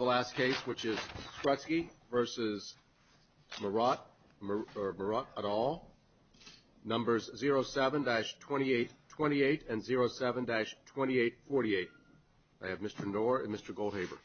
et al., numbers 07-2828 and 07-2848. I have Mr. Knorr and Mr. Goldhaber. I have Mr. Goldhaber and Mr. Goldhaber.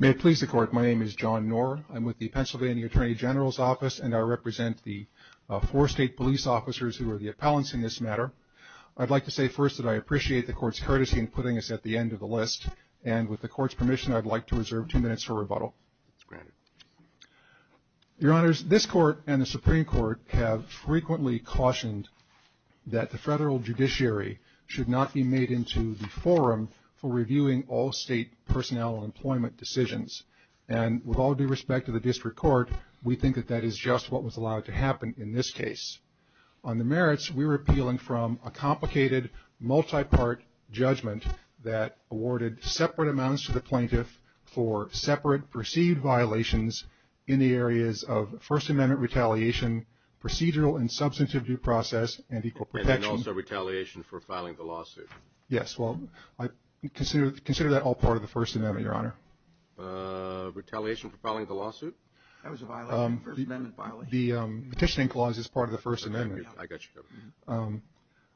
May it please the Court, my name is John Knorr. I'm with the Pennsylvania Attorney General's Office and I represent the four state police officers who are the appellants in this matter. I'd like to say first that I appreciate the Court's courtesy in putting us at the end of the list and with the Court's permission, I'd like to reserve two minutes for rebuttal. Your Honors, this Court and the Supreme Court have frequently cautioned that the federal judiciary should not be made into the forum for reviewing all state personnel employment decisions and with all due respect to the district court, we think that that is just what was allowed to happen in this case. On the merits, we're appealing from a complicated multi-part judgment that awarded separate amounts to the plaintiff for separate perceived violations in the areas of First Amendment retaliation, procedural and substantive due process and equal protection. And also retaliation for filing the lawsuit. Yes, well, consider that all part of the First Amendment, Your Honor. Retaliation for filing the lawsuit? That was a First Amendment violation. The petitioning clause is part of the First Amendment. I got you, Your Honor.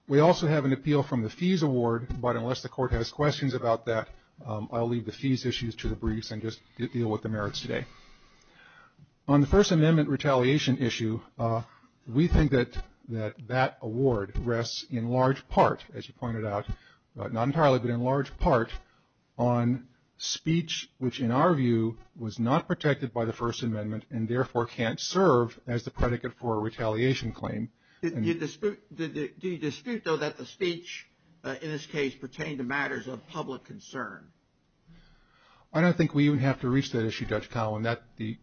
We also have an appeal from the fees award, but unless the Court has questions about that, I'll leave the fees issues to the briefs and just deal with the merits today. On the First Amendment retaliation issue, we think that that award rests in large part, as you pointed out, not entirely, but in large part on speech which in our view is part of the First Amendment and therefore can't serve as the predicate for a retaliation claim. Do you dispute, though, that the speech in this case pertained to matters of public concern? I don't think we even have to reach that issue, Judge Cowell,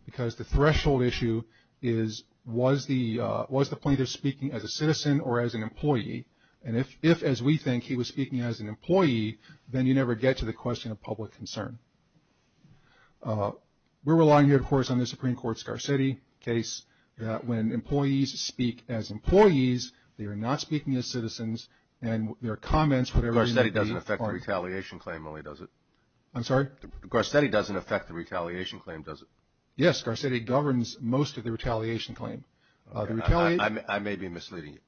because the threshold issue is was the plaintiff speaking as a citizen or as an employee? And if, as we think, he was speaking as an employee, then you never get to the question of public concern. We're relying, of course, on the Supreme Court's Garcetti case that when employees speak as employees, they are not speaking as citizens and their comments, whatever they may be, aren't. Garcetti doesn't affect the retaliation claim, does it? I'm sorry? Garcetti doesn't affect the retaliation claim, does it? Yes, Garcetti governs most of the retaliation claim. I may be misleading you.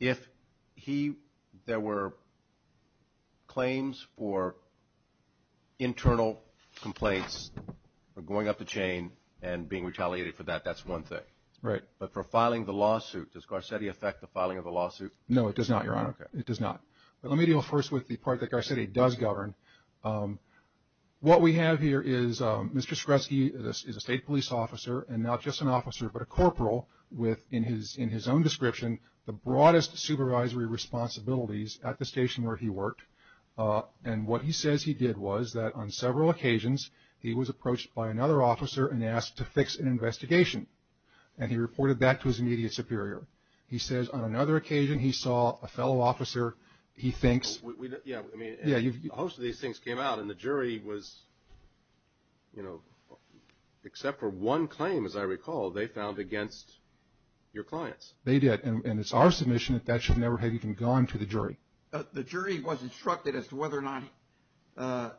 If there were claims for internal complaints of going up the chain and being retaliated for that, that's one thing. Right. But for filing the lawsuit, does Garcetti affect the filing of the lawsuit? No, it does not, Your Honor. Okay. It does not. But let me deal first with the part that Garcetti does govern. What we have here is Mr. Skresge is a state police officer and not just an officer but a corporal with, in his own description, the broadest supervisory responsibilities at the station where he worked. And what he says he did was that on several occasions he was approached by another officer and asked to fix an investigation. And he reported that to his immediate superior. He says on another occasion he saw a fellow officer. Yeah. Most of these things came out and the jury was, you know, except for one claim, as I recall, they found against your clients. They did. And it's our submission that that should never have even gone to the jury. The jury was instructed as to whether or not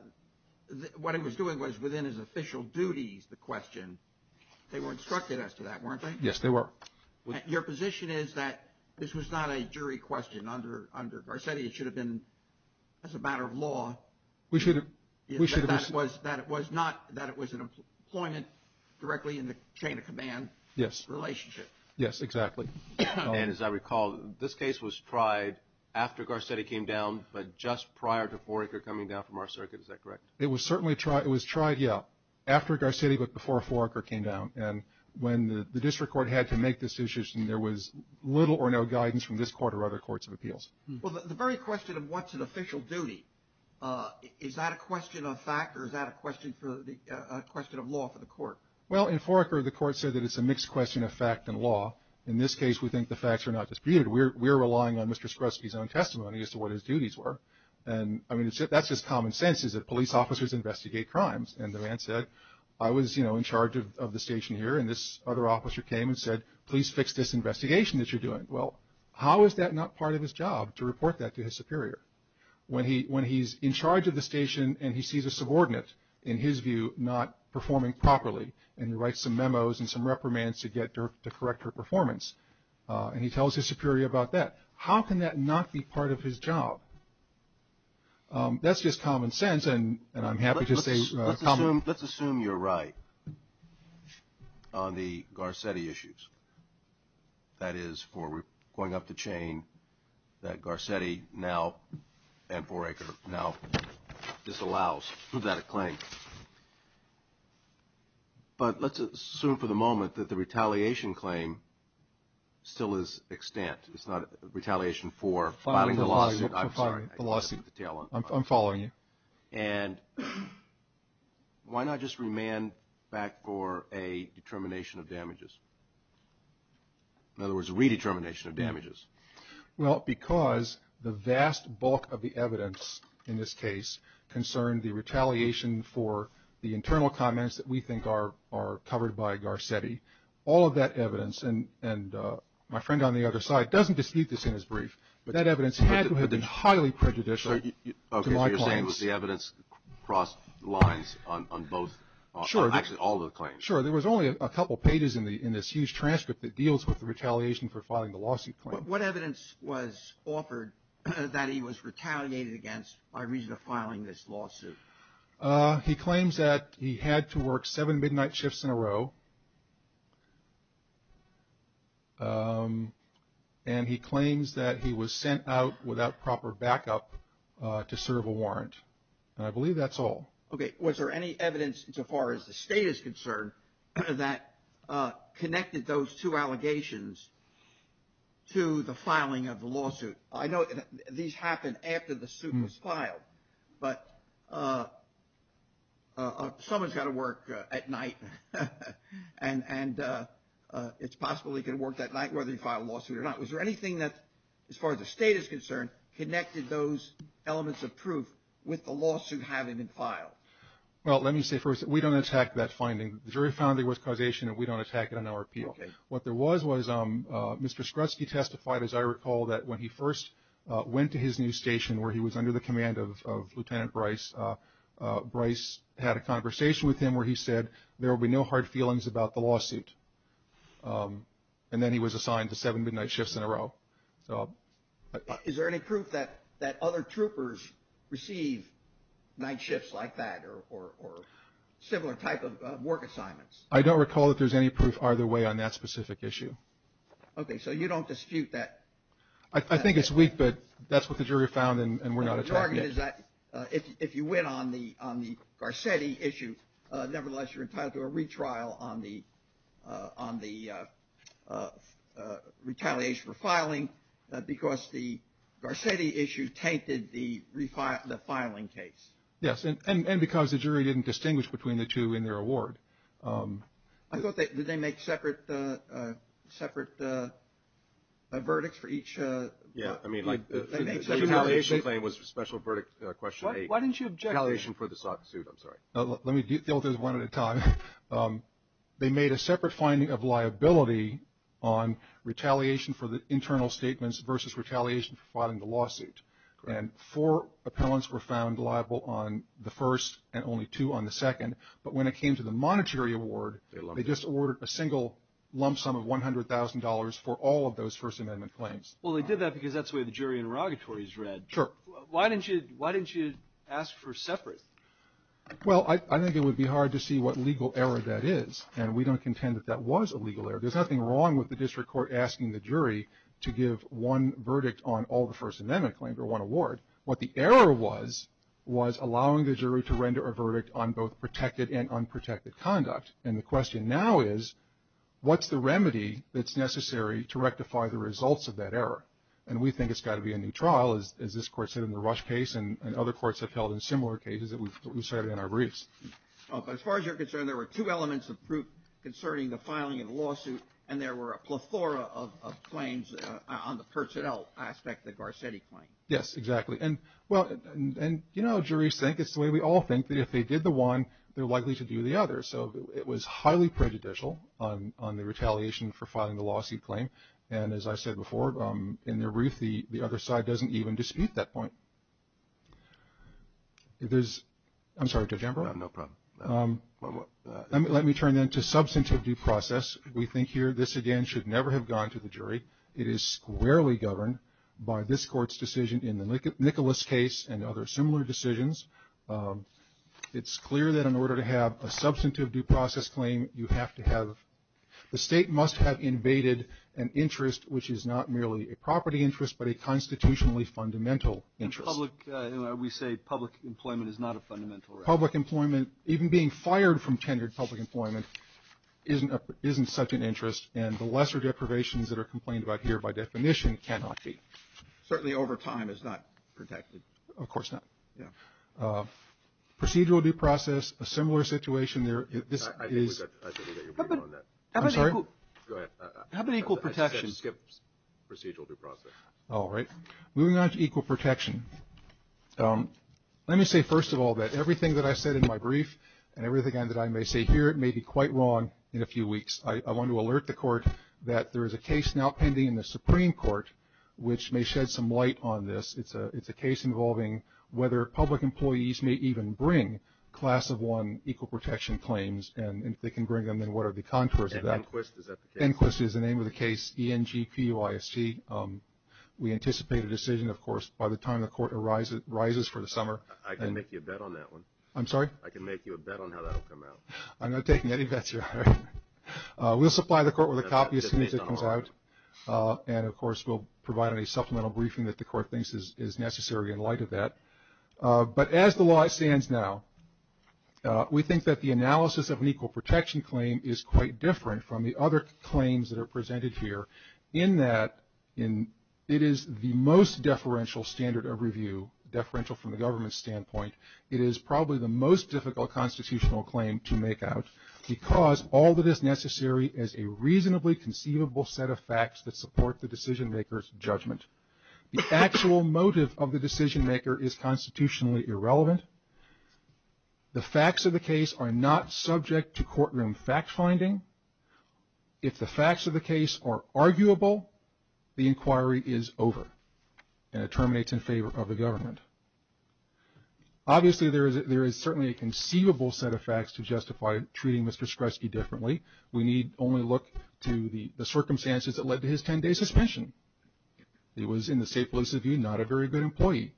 what he was doing was within his official duties, the question. They were instructed as to that, weren't they? Yes, they were. Your position is that this was not a jury question under Garcetti. It should have been as a matter of law. We should have. That it was not that it was an employment directly in the chain of command relationship. Yes. Yes, exactly. And as I recall, this case was tried after Garcetti came down but just prior to Foraker coming down from our circuit. Is that correct? It was certainly tried. It was tried, yeah, after Garcetti but before Foraker came down. And when the district court had to make this decision, there was little or no guidance from this court or other courts of appeals. Well, the very question of what's an official duty, is that a question of fact or is that a question of law for the court? Well, in Foraker, the court said that it's a mixed question of fact and law. In this case, we think the facts are not disputed. We're relying on Mr. Skruski's own testimony as to what his duties were. And, I mean, that's just common sense, is that police officers investigate crimes. And the man said, I was, you know, in charge of the station here, and this other officer came and said, please fix this investigation that you're doing. Well, how is that not part of his job to report that to his superior? When he's in charge of the station and he sees a subordinate, in his view, not performing properly, and he writes some memos and some reprimands to get to correct her performance, and he tells his superior about that. How can that not be part of his job? That's just common sense, and I'm happy to say common. Let's assume you're right on the Garcetti issues. That is, for going up the chain, that Garcetti now and Foraker now disallows that claim. But let's assume for the moment that the retaliation claim still is extant. It's not retaliation for filing the lawsuit. I'm following you. And why not just remand back for a determination of damages? In other words, a redetermination of damages. Well, because the vast bulk of the evidence in this case concerned the retaliation for the internal comments that we think are covered by Garcetti. All of that evidence, and my friend on the other side doesn't dispute this in his brief, but that evidence had to have been highly prejudicial to my points. So you're saying it was the evidence across the lines on both, actually all of the claims? Sure. There was only a couple pages in this huge transcript that deals with the retaliation for filing the lawsuit claim. What evidence was offered that he was retaliated against by reason of filing this lawsuit? He claims that he had to work seven midnight shifts in a row. And he claims that he was sent out without proper backup to serve a warrant. And I believe that's all. Okay. Was there any evidence as far as the state is concerned that connected those two allegations to the filing of the lawsuit? I know these happen after the suit was filed, but someone's got to work at night, and it's possible he could have worked at night whether he filed a lawsuit or not. Was there anything that, as far as the state is concerned, connected those elements of proof with the lawsuit having been filed? Well, let me say first that we don't attack that finding. The jury found it was causation, and we don't attack it on our appeal. Okay. What there was was Mr. Skrutsky testified, as I recall, that when he first went to his new station where he was under the command of Lieutenant Bryce, Bryce had a conversation with him where he said there will be no hard feelings about the lawsuit. And then he was assigned to seven midnight shifts in a row. Is there any proof that other troopers receive night shifts like that or similar type of work assignments? I don't recall that there's any proof either way on that specific issue. Okay. So you don't dispute that? I think it's weak, but that's what the jury found, and we're not attacking it. The argument is that if you win on the Garcetti issue, nevertheless you're entitled to a retrial on the retaliation for filing because the Garcetti issue tainted the filing case. Yes, and because the jury didn't distinguish between the two in their award. I thought that they make separate verdicts for each. Yeah. I mean, like the retaliation claim was special verdict question eight. Why didn't you object to retaliation for the lawsuit? I'm sorry. Let me deal with this one at a time. They made a separate finding of liability on retaliation for the internal statements versus retaliation for filing the lawsuit. Correct. And four appellants were found liable on the first and only two on the second. But when it came to the monetary award, they just awarded a single lump sum of $100,000 for all of those First Amendment claims. Well, they did that because that's the way the jury interrogatory is read. Sure. Why didn't you ask for separate? Well, I think it would be hard to see what legal error that is, and we don't contend that that was a legal error. There's nothing wrong with the district court asking the jury to give one verdict on all the First Amendment claims or one award. What the error was, was allowing the jury to render a verdict on both protected and unprotected conduct. And the question now is, what's the remedy that's necessary to rectify the results of that error? And we think it's got to be a new trial, as this court said in the Rush case, and other courts have held in similar cases that we've cited in our briefs. But as far as you're concerned, there were two elements of proof concerning the filing of the lawsuit, and there were a plethora of claims on the personnel aspect of the Garcetti claim. Yes, exactly. And, well, you know how juries think. It's the way we all think, that if they did the one, they're likely to do the other. So it was highly prejudicial on the retaliation for filing the lawsuit claim. And as I said before, in their brief, the other side doesn't even dispute that point. I'm sorry, Judge Ambrose? No problem. Let me turn, then, to substantive due process. We think here this, again, should never have gone to the jury. It is squarely governed by this court's decision in the Nicholas case and other similar decisions. It's clear that in order to have a substantive due process claim, you have to have the state must have invaded an interest, which is not merely a property interest but a constitutionally fundamental interest. We say public employment is not a fundamental right. Public employment, even being fired from tenured public employment, isn't such an interest, and the lesser deprivations that are complained about here by definition cannot be. Certainly over time it's not protected. Of course not. Yeah. Procedural due process, a similar situation there. I think we got your point on that. I'm sorry? Go ahead. How about equal protection? I said skip procedural due process. All right. Moving on to equal protection, let me say, first of all, that everything that I said in my brief and everything that I may say here may be quite wrong in a few weeks. I want to alert the Court that there is a case now pending in the Supreme Court which may shed some light on this. It's a case involving whether public employees may even bring Class of 1 equal protection claims, and if they can bring them, then what are the contours of that? Enquist, is that the case? Enquist is the name of the case, E-N-G-P-U-I-S-T. We anticipate a decision, of course, by the time the Court arises for the summer. I can make you a bet on that one. I'm sorry? I can make you a bet on how that will come out. I'm not taking any bets here. We'll supply the Court with a copy as soon as it comes out, and, of course, we'll provide any supplemental briefing that the Court thinks is necessary in light of that. But as the law stands now, we think that the analysis of an equal protection claim is quite different from the other claims that are presented here in that it is the most deferential standard of review, deferential from the government's standpoint. It is probably the most difficult constitutional claim to make out because all that is necessary is a reasonably conceivable set The actual motive of the decision-maker is constitutionally irrelevant. The facts of the case are not subject to courtroom fact-finding. If the facts of the case are arguable, the inquiry is over, and it terminates in favor of the government. Obviously, there is certainly a conceivable set of facts to justify treating Mr. Skresge differently. We need only look to the circumstances that led to his 10-day suspension. He was, in the state police's view, not a very good employee.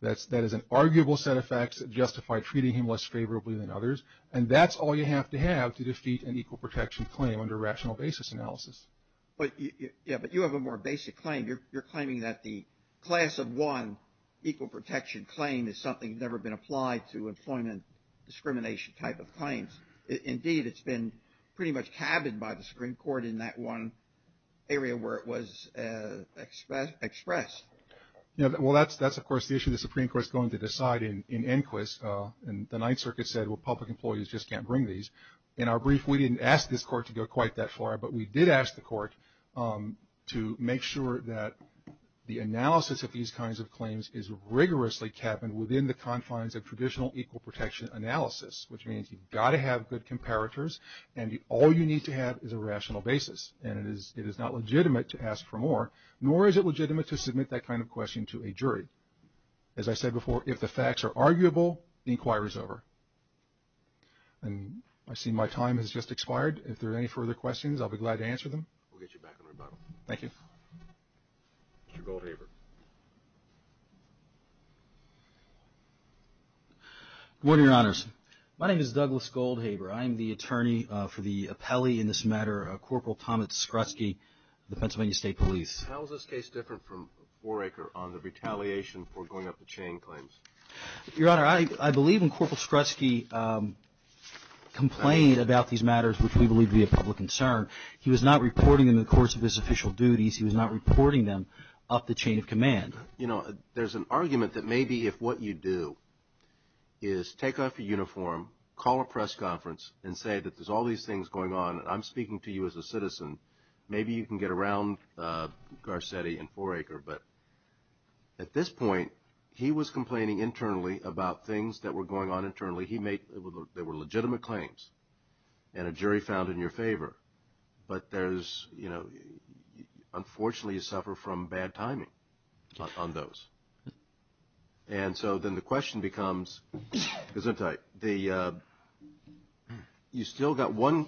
That is an arguable set of facts that justify treating him less favorably than others, and that's all you have to have to defeat an equal protection claim under rational basis analysis. But you have a more basic claim. You're claiming that the class of one equal protection claim is something that's never been applied to employment discrimination type of claims. Indeed, it's been pretty much cabined by the Supreme Court in that one area where it was expressed. Well, that's, of course, the issue the Supreme Court is going to decide in inquis. And the Ninth Circuit said, well, public employees just can't bring these. In our brief, we didn't ask this court to go quite that far, but we did ask the court to make sure that the analysis of these kinds of claims is rigorously cabined within the confines of traditional equal protection analysis, which means you've got to have good comparators, and all you need to have is a rational basis. And it is not legitimate to ask for more, nor is it legitimate to submit that kind of question to a jury. As I said before, if the facts are arguable, the inquiry's over. And I see my time has just expired. If there are any further questions, I'll be glad to answer them. We'll get you back in rebuttal. Thank you. Mr. Goldhaber. Good morning, Your Honors. My name is Douglas Goldhaber. I am the attorney for the appellee in this matter, Corporal Thomas Skrutsky of the Pennsylvania State Police. How is this case different from Waraker on the retaliation for going up the chain claims? Your Honor, I believe when Corporal Skrutsky complained about these matters, which we believe to be a public concern, he was not reporting them in the course of his official duties. He was not reporting them up the chain of command. You know, there's an argument that maybe if what you do is take off your uniform, call a press conference, and say that there's all these things going on and I'm speaking to you as a citizen, maybe you can get around Garcetti and Waraker. But at this point, he was complaining internally about things that were going on internally. There were legitimate claims and a jury found in your favor. But there's, you know, unfortunately you suffer from bad timing on those. And so then the question becomes, Gesundheit, you still got one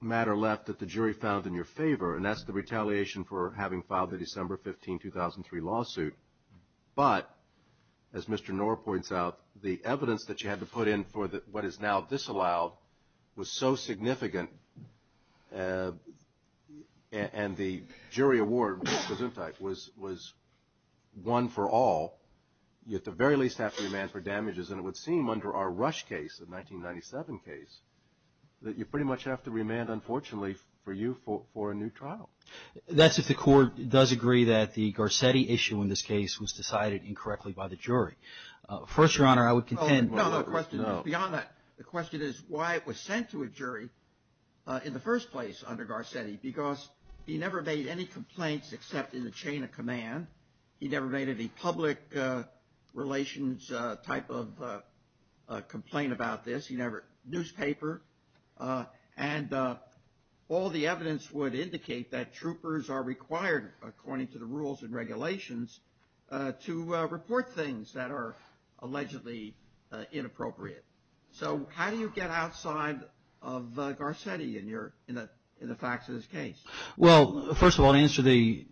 matter left that the jury found in your favor, and that's the retaliation for having filed the December 15, 2003 lawsuit. But, as Mr. Knorr points out, the evidence that you had to put in for what is now disallowed was so significant, and the jury award, Gesundheit, was one for all. You at the very least have to remand for damages, and it would seem under our Rush case, the 1997 case, that you pretty much have to remand, unfortunately, for you for a new trial. That's if the court does agree that the Garcetti issue in this case was decided incorrectly by the jury. First, Your Honor, I would contend. No, no, the question is beyond that. The question is why it was sent to a jury in the first place under Garcetti, because he never made any complaints except in the chain of command. He never made any public relations type of complaint about this. He never, newspaper, and all the evidence would indicate that troopers are required, according to the rules and regulations, to report things that are allegedly inappropriate. So how do you get outside of Garcetti in the facts of this case? Well, first of all, to answer the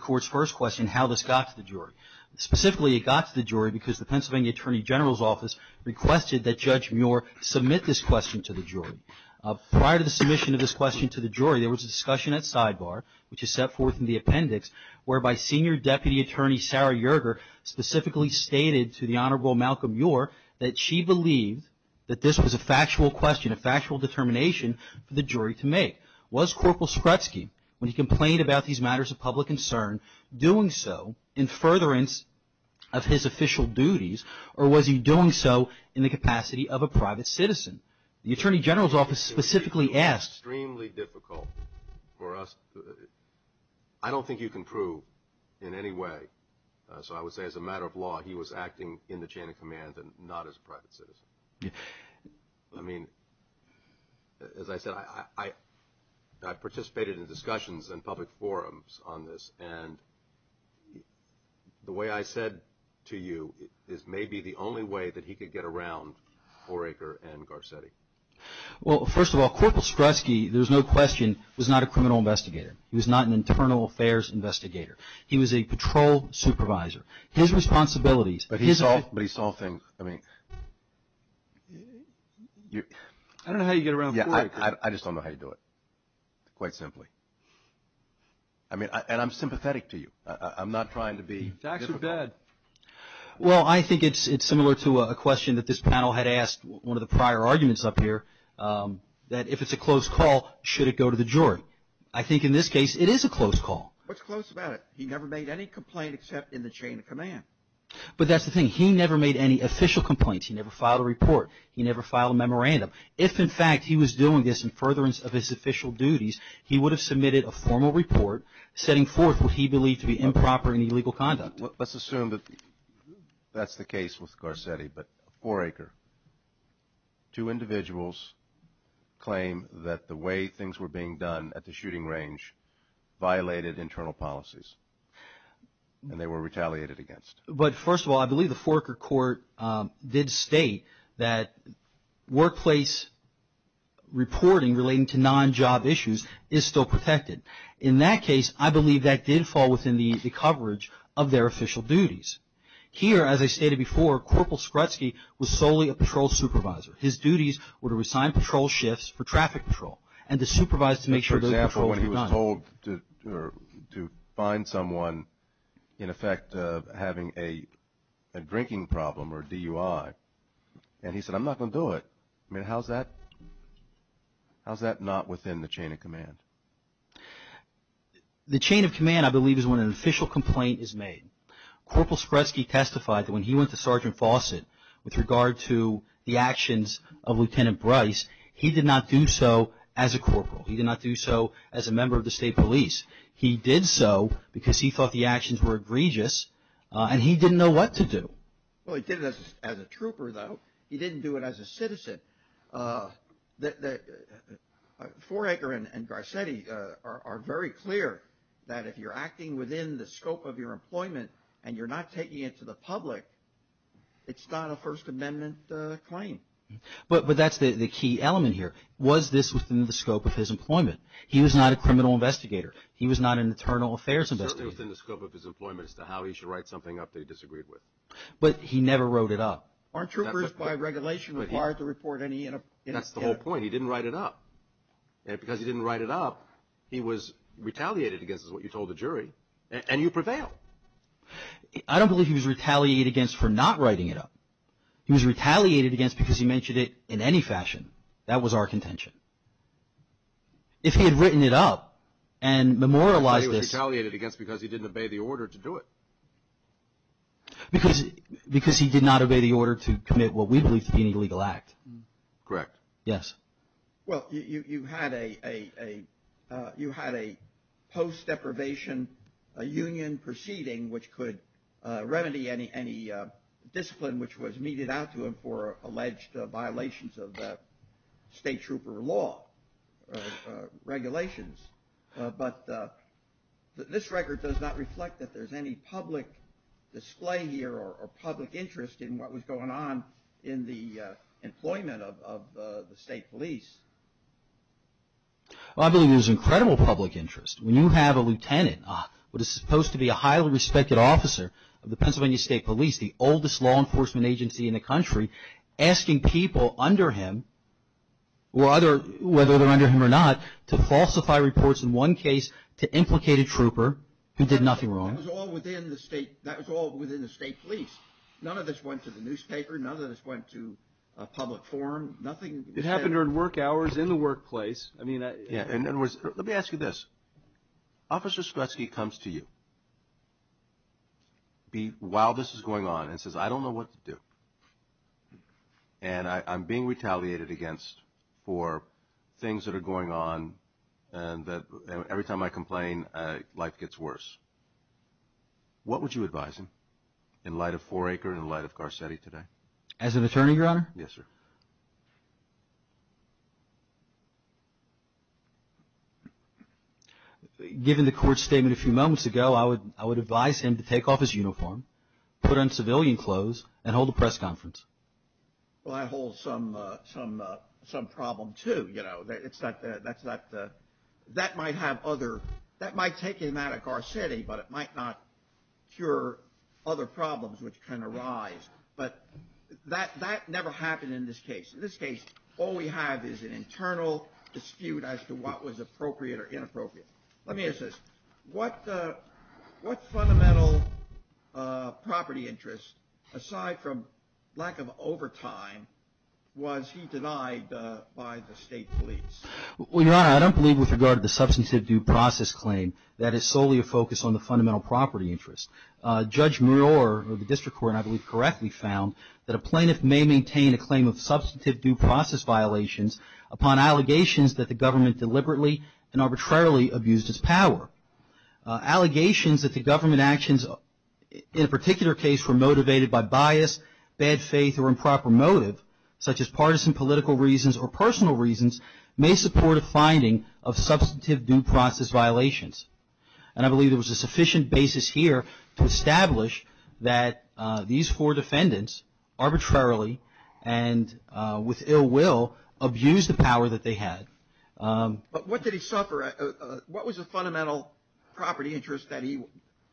court's first question, how this got to the jury. Specifically, it got to the jury because the Pennsylvania Attorney General's Office requested that Judge Muir submit this question to the jury. Prior to the submission of this question to the jury, there was a discussion at Sidebar, which is set forth in the appendix, whereby Senior Deputy Attorney Sarah Yerger specifically stated to the Honorable Malcolm Muir that she believed that this was a factual question, a factual determination for the jury to make. Was Corporal Skrutsky, when he complained about these matters of public concern, doing so in furtherance of his official duties, or was he doing so in the capacity of a private citizen? The Attorney General's Office specifically asked. Extremely difficult for us. I don't think you can prove in any way. So I would say, as a matter of law, he was acting in the chain of command and not as a private citizen. I mean, as I said, I participated in discussions and public forums on this, and the way I said to you is maybe the only way that he could get around Oraker and Garcetti. Well, first of all, Corporal Skrutsky, there's no question, was not a criminal investigator. He was not an internal affairs investigator. He was a patrol supervisor. His responsibilities. But he saw things. I don't know how you get around Oraker. I just don't know how you do it, quite simply. And I'm sympathetic to you. I'm not trying to be. It's actually bad. Well, I think it's similar to a question that this panel had asked one of the prior arguments up here, that if it's a close call, should it go to the jury? I think in this case, it is a close call. What's close about it? He never made any complaint except in the chain of command. But that's the thing. He never made any official complaints. He never filed a report. He never filed a memorandum. If, in fact, he was doing this in furtherance of his official duties, he would have submitted a formal report setting forth what he believed to be improper and illegal conduct. Let's assume that that's the case with Garcetti. But Oraker, two individuals claim that the way things were being done at the shooting range violated internal policies. And they were retaliated against. But, first of all, I believe the Foraker court did state that workplace reporting relating to non-job issues is still protected. In that case, I believe that did fall within the coverage of their official duties. Here, as I stated before, Corporal Skrutsky was solely a patrol supervisor. His duties were to assign patrol shifts for traffic patrol and to supervise to make sure those patrols were done. For example, when he was told to find someone in effect having a drinking problem or DUI, and he said, I'm not going to do it, how's that not within the chain of command? The chain of command, I believe, is when an official complaint is made. Corporal Skrutsky testified that when he went to Sergeant Fawcett with regard to the actions of Lieutenant Bryce, he did not do so as a corporal. He did not do so as a member of the state police. He did so because he thought the actions were egregious, and he didn't know what to do. Well, he did it as a trooper, though. He didn't do it as a citizen. Foraker and Garcetti are very clear that if you're acting within the scope of your employment and you're not taking it to the public, it's not a First Amendment claim. But that's the key element here. Was this within the scope of his employment? He was not a criminal investigator. He was not an internal affairs investigator. It was certainly within the scope of his employment as to how he should write something up that he disagreed with. But he never wrote it up. Aren't troopers, by regulation, required to report any inappropriateness? That's the whole point. He didn't write it up. And because he didn't write it up, he was retaliated against, is what you told the jury, and you prevailed. I don't believe he was retaliated against for not writing it up. He was retaliated against because he mentioned it in any fashion. That was our contention. If he had written it up and memorialized this. He was retaliated against because he didn't obey the order to do it. Because he did not obey the order to commit what we believe to be an illegal act. Correct. Yes. Well, you had a post-deprivation union proceeding which could remedy any discipline which was meted out to him for alleged violations of state trooper law regulations. But this record does not reflect that there's any public display here or public interest in what was going on in the employment of the state police. Well, I believe there's incredible public interest. When you have a lieutenant, what is supposed to be a highly respected officer of the Pennsylvania State Police, the oldest law enforcement agency in the country, asking people under him, whether they're under him or not, to falsify reports in one case to implicate a trooper who did nothing wrong. That was all within the state police. None of this went to the newspaper. None of this went to a public forum. It happened during work hours in the workplace. Let me ask you this. Officer Skrutsky comes to you while this is going on and says, I don't know what to do. And I'm being retaliated against for things that are going on and that every time I complain, life gets worse. What would you advise him in light of Four Acre and in light of Garcetti today? As an attorney, Your Honor? Yes, sir. Given the court's statement a few moments ago, I would advise him to take off his uniform, put on civilian clothes, and hold a press conference. Well, that holds some problem, too. You know, that might take him out of Garcetti, but it might not cure other problems which can arise. But that never happened in this case. In this case, all we have is an internal dispute as to what was appropriate or inappropriate. Let me ask this. What fundamental property interest, aside from lack of overtime, was he denied by the state police? Well, Your Honor, I don't believe with regard to the substantive due process claim. That is solely a focus on the fundamental property interest. Judge Muir of the District Court, I believe, correctly found that a plaintiff may maintain a claim of substantive due process violations upon allegations that the government deliberately and arbitrarily abused its power. Allegations that the government actions in a particular case were motivated by bias, bad faith, or improper motive, such as partisan political reasons or personal reasons, may support a finding of substantive due process violations. And I believe there was a sufficient basis here to establish that these four defendants arbitrarily and with ill will abused the power that they had. But what did he suffer? What was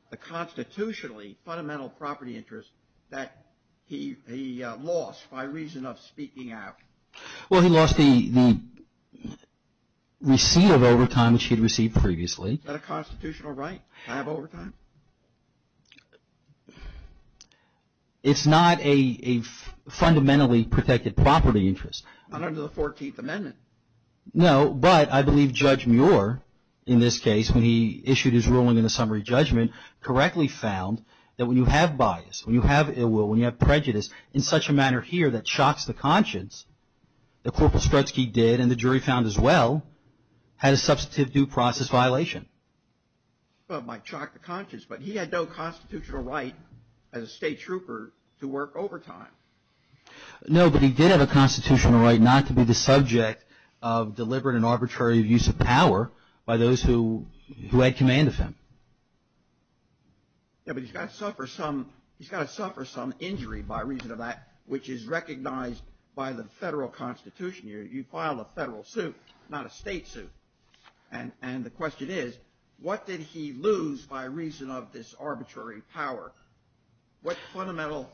the constitutionally fundamental property interest that he lost by reason of speaking out? Well, he lost the receipt of overtime which he had received previously. Is that a constitutional right to have overtime? It's not a fundamentally protected property interest. Not under the 14th Amendment. No, but I believe Judge Muir, in this case, when he issued his ruling in the summary judgment, correctly found that when you have bias, when you have ill will, when you have prejudice, in such a manner here that shocks the conscience, that Corporal Strutsky did and the jury found as well, had a substantive due process violation. Well, it might shock the conscience, but he had no constitutional right as a state trooper to work overtime. No, but he did have a constitutional right not to be the subject of deliberate and arbitrary abuse of power by those who had command of him. Yeah, but he's got to suffer some injury by reason of that which is recognized by the federal constitution. You file a federal suit, not a state suit. And the question is, what did he lose by reason of this arbitrary power? What fundamental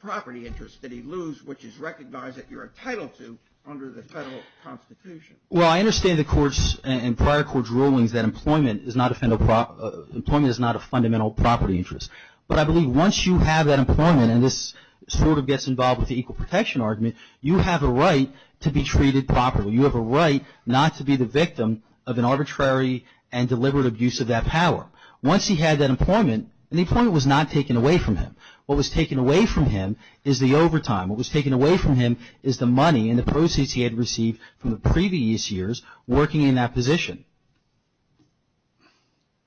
property interest did he lose which is recognized that you're entitled to under the federal constitution? Well, I understand the court's and prior court's rulings that employment is not a fundamental property interest. But I believe once you have that employment and this sort of gets involved with the equal protection argument, you have a right to be treated properly. You have a right not to be the victim of an arbitrary and deliberate abuse of that power. Once he had that employment, and the employment was not taken away from him. What was taken away from him is the overtime. What was taken away from him is the money and the proceeds he had received from the previous years working in that position.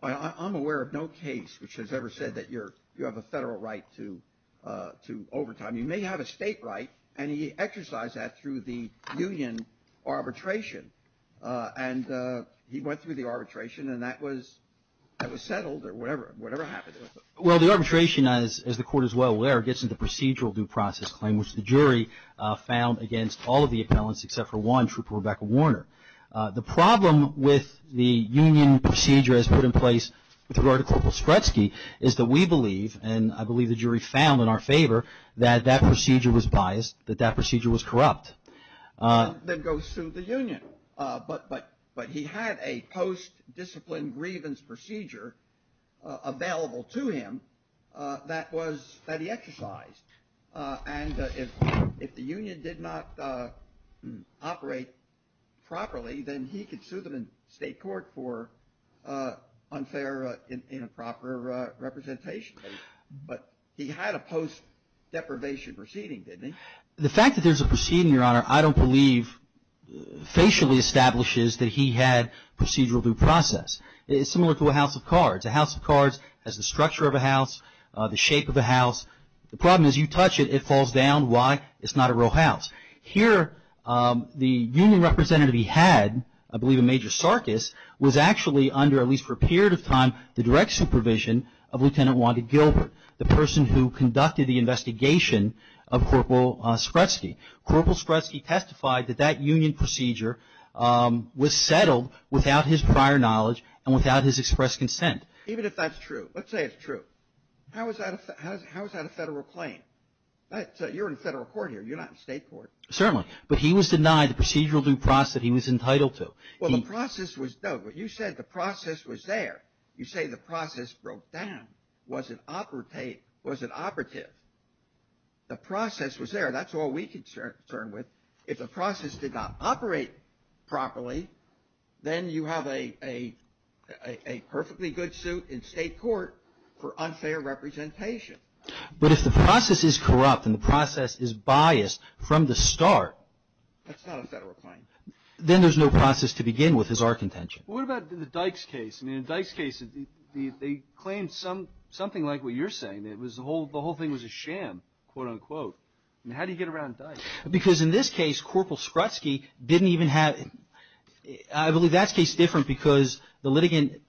I'm aware of no case which has ever said that you have a federal right to overtime. You may have a state right. And he exercised that through the union arbitration. And he went through the arbitration, and that was settled or whatever happened. Well, the arbitration, as the court is well aware, gets into procedural due process claim, which the jury found against all of the appellants except for one, Trooper Rebecca Warner. The problem with the union procedure as put in place with regard to Corporal Strutsky is that we believe, and I believe the jury found in our favor, that that procedure was biased, that that procedure was corrupt. Then go sue the union. But he had a post-discipline grievance procedure available to him that he exercised. And if the union did not operate properly, then he could sue them in state court for unfair, improper representation. But he had a post-deprivation proceeding, didn't he? The fact that there's a proceeding, Your Honor, I don't believe facially establishes that he had procedural due process. It's similar to a house of cards. A house of cards has the structure of a house, the shape of a house. The problem is you touch it, it falls down. Why? It's not a real house. Here, the union representative he had, I believe a major circus, was actually under, at least for a period of time, the direct supervision of Lieutenant Wanda Gilbert, the person who conducted the investigation of Corporal Strutsky. Corporal Strutsky testified that that union procedure was settled without his prior knowledge and without his express consent. Even if that's true. Let's say it's true. How is that a federal claim? You're in federal court here. You're not in state court. Certainly. But he was denied the procedural due process that he was entitled to. Well, the process was, no, but you said the process was there. You say the process broke down. Was it operative? The process was there. That's all we could turn with. If the process did not operate properly, then you have a perfectly good suit in state court for unfair representation. But if the process is corrupt and the process is biased from the start. That's not a federal claim. Then there's no process to begin with as our contention. What about the Dykes case? In the Dykes case, they claimed something like what you're saying. The whole thing was a sham, quote, unquote. How do you get around Dykes? Because in this case, Corporal Skrutsky didn't even have, I believe that's case different because the litigant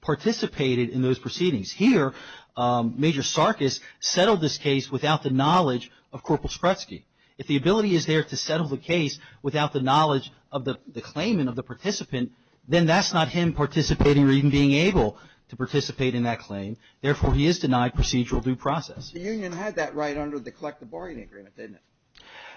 participated in those proceedings. Here, Major Sarkis settled this case without the knowledge of Corporal Skrutsky. If the ability is there to settle the case without the knowledge of the claimant, of the participant, then that's not him participating or even being able to participate in that claim. Therefore, he is denied procedural due process. The union had that right under the collective bargaining agreement, didn't it?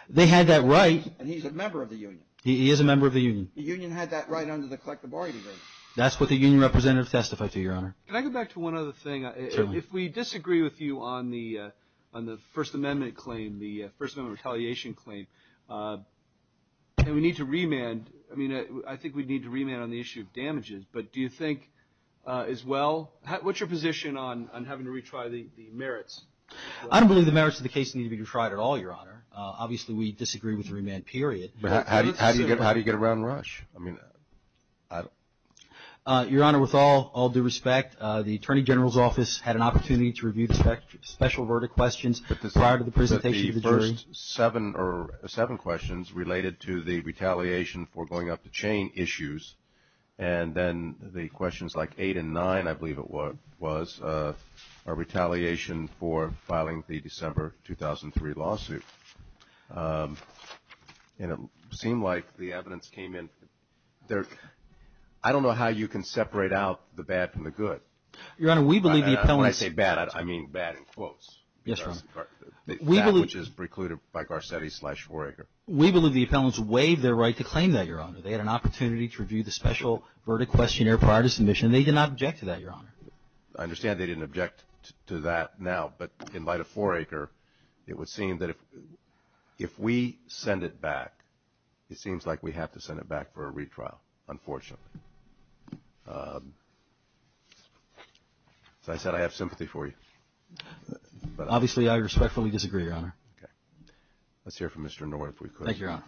They had that right. And he's a member of the union. He is a member of the union. The union had that right under the collective bargaining agreement. That's what the union representative testified to, Your Honor. Can I go back to one other thing? Certainly. If we disagree with you on the First Amendment claim, the First Amendment retaliation claim, and we need to remand, I mean, I think we need to remand on the issue of damages. But do you think as well? What's your position on having to retry the merits? I don't believe the merits of the case need to be retried at all, Your Honor. Obviously, we disagree with the remand period. But how do you get around Rush? I mean, I don't. Your Honor, with all due respect, the Attorney General's Office had an opportunity to review the special verdict questions prior to the presentation of the jury. The first seven questions related to the retaliation for going up the chain issues. And then the questions like eight and nine, I believe it was, are retaliation for filing the December 2003 lawsuit. And it seemed like the evidence came in there. I don't know how you can separate out the bad from the good. Your Honor, we believe the appellants. When I say bad, I mean bad in quotes. Yes, Your Honor. That which is precluded by Garcetti slash 4 Acre. We believe the appellants waived their right to claim that, Your Honor. They had an opportunity to review the special verdict questionnaire prior to submission. They did not object to that, Your Honor. I understand they didn't object to that now. But in light of 4 Acre, it would seem that if we send it back, it seems like we have to send it back for a retrial, unfortunately. As I said, I have sympathy for you. Obviously, I respectfully disagree, Your Honor. Okay. Let's hear from Mr. Norr if we could. Thank you, Your Honor.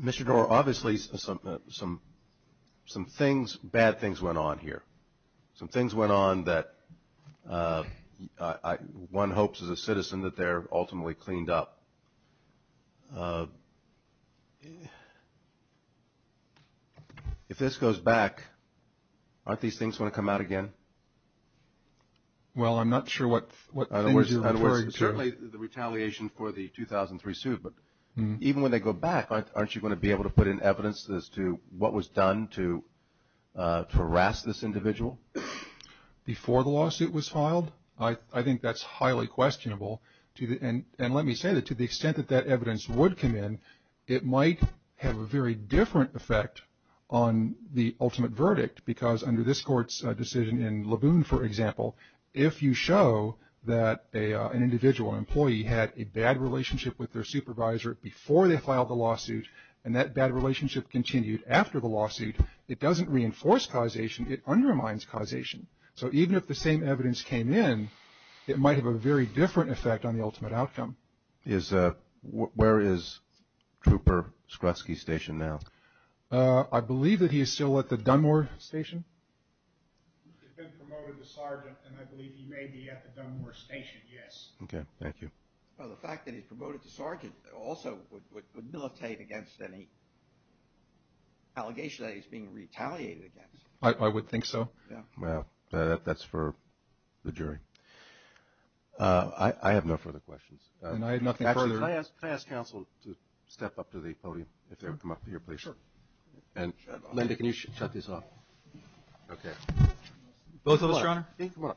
Mr. Norr, obviously some bad things went on here. Some things went on that one hopes as a citizen that they're ultimately cleaned up. If this goes back, aren't these things going to come out again? Well, I'm not sure what things have occurred. Certainly the retaliation for the 2003 suit. But even when they go back, aren't you going to be able to put in evidence as to what was done to harass this individual? Before the lawsuit was filed? I think that's highly questionable. And let me say that to the extent that that evidence would come in, it might have a very different effect on the ultimate verdict. Because under this court's decision in Laboon, for example, if you show that an individual employee had a bad relationship with their supervisor before they filed the lawsuit, and that bad relationship continued after the lawsuit, it doesn't reinforce causation. It undermines causation. So even if the same evidence came in, it might have a very different effect on the ultimate outcome. Where is Trooper Skreski's station now? I believe that he is still at the Dunmore station. He's been promoted to sergeant, and I believe he may be at the Dunmore station, yes. Okay, thank you. Well, the fact that he's promoted to sergeant also would militate against any allegation that he's being retaliated against. I would think so. Yeah. Well, that's for the jury. I have no further questions. And I have nothing further. Could I ask counsel to step up to the podium, if they would come up here, please? Sure. And, Linda, can you shut this off? Okay. Both of us, Your Honor. Come on up. Thank you.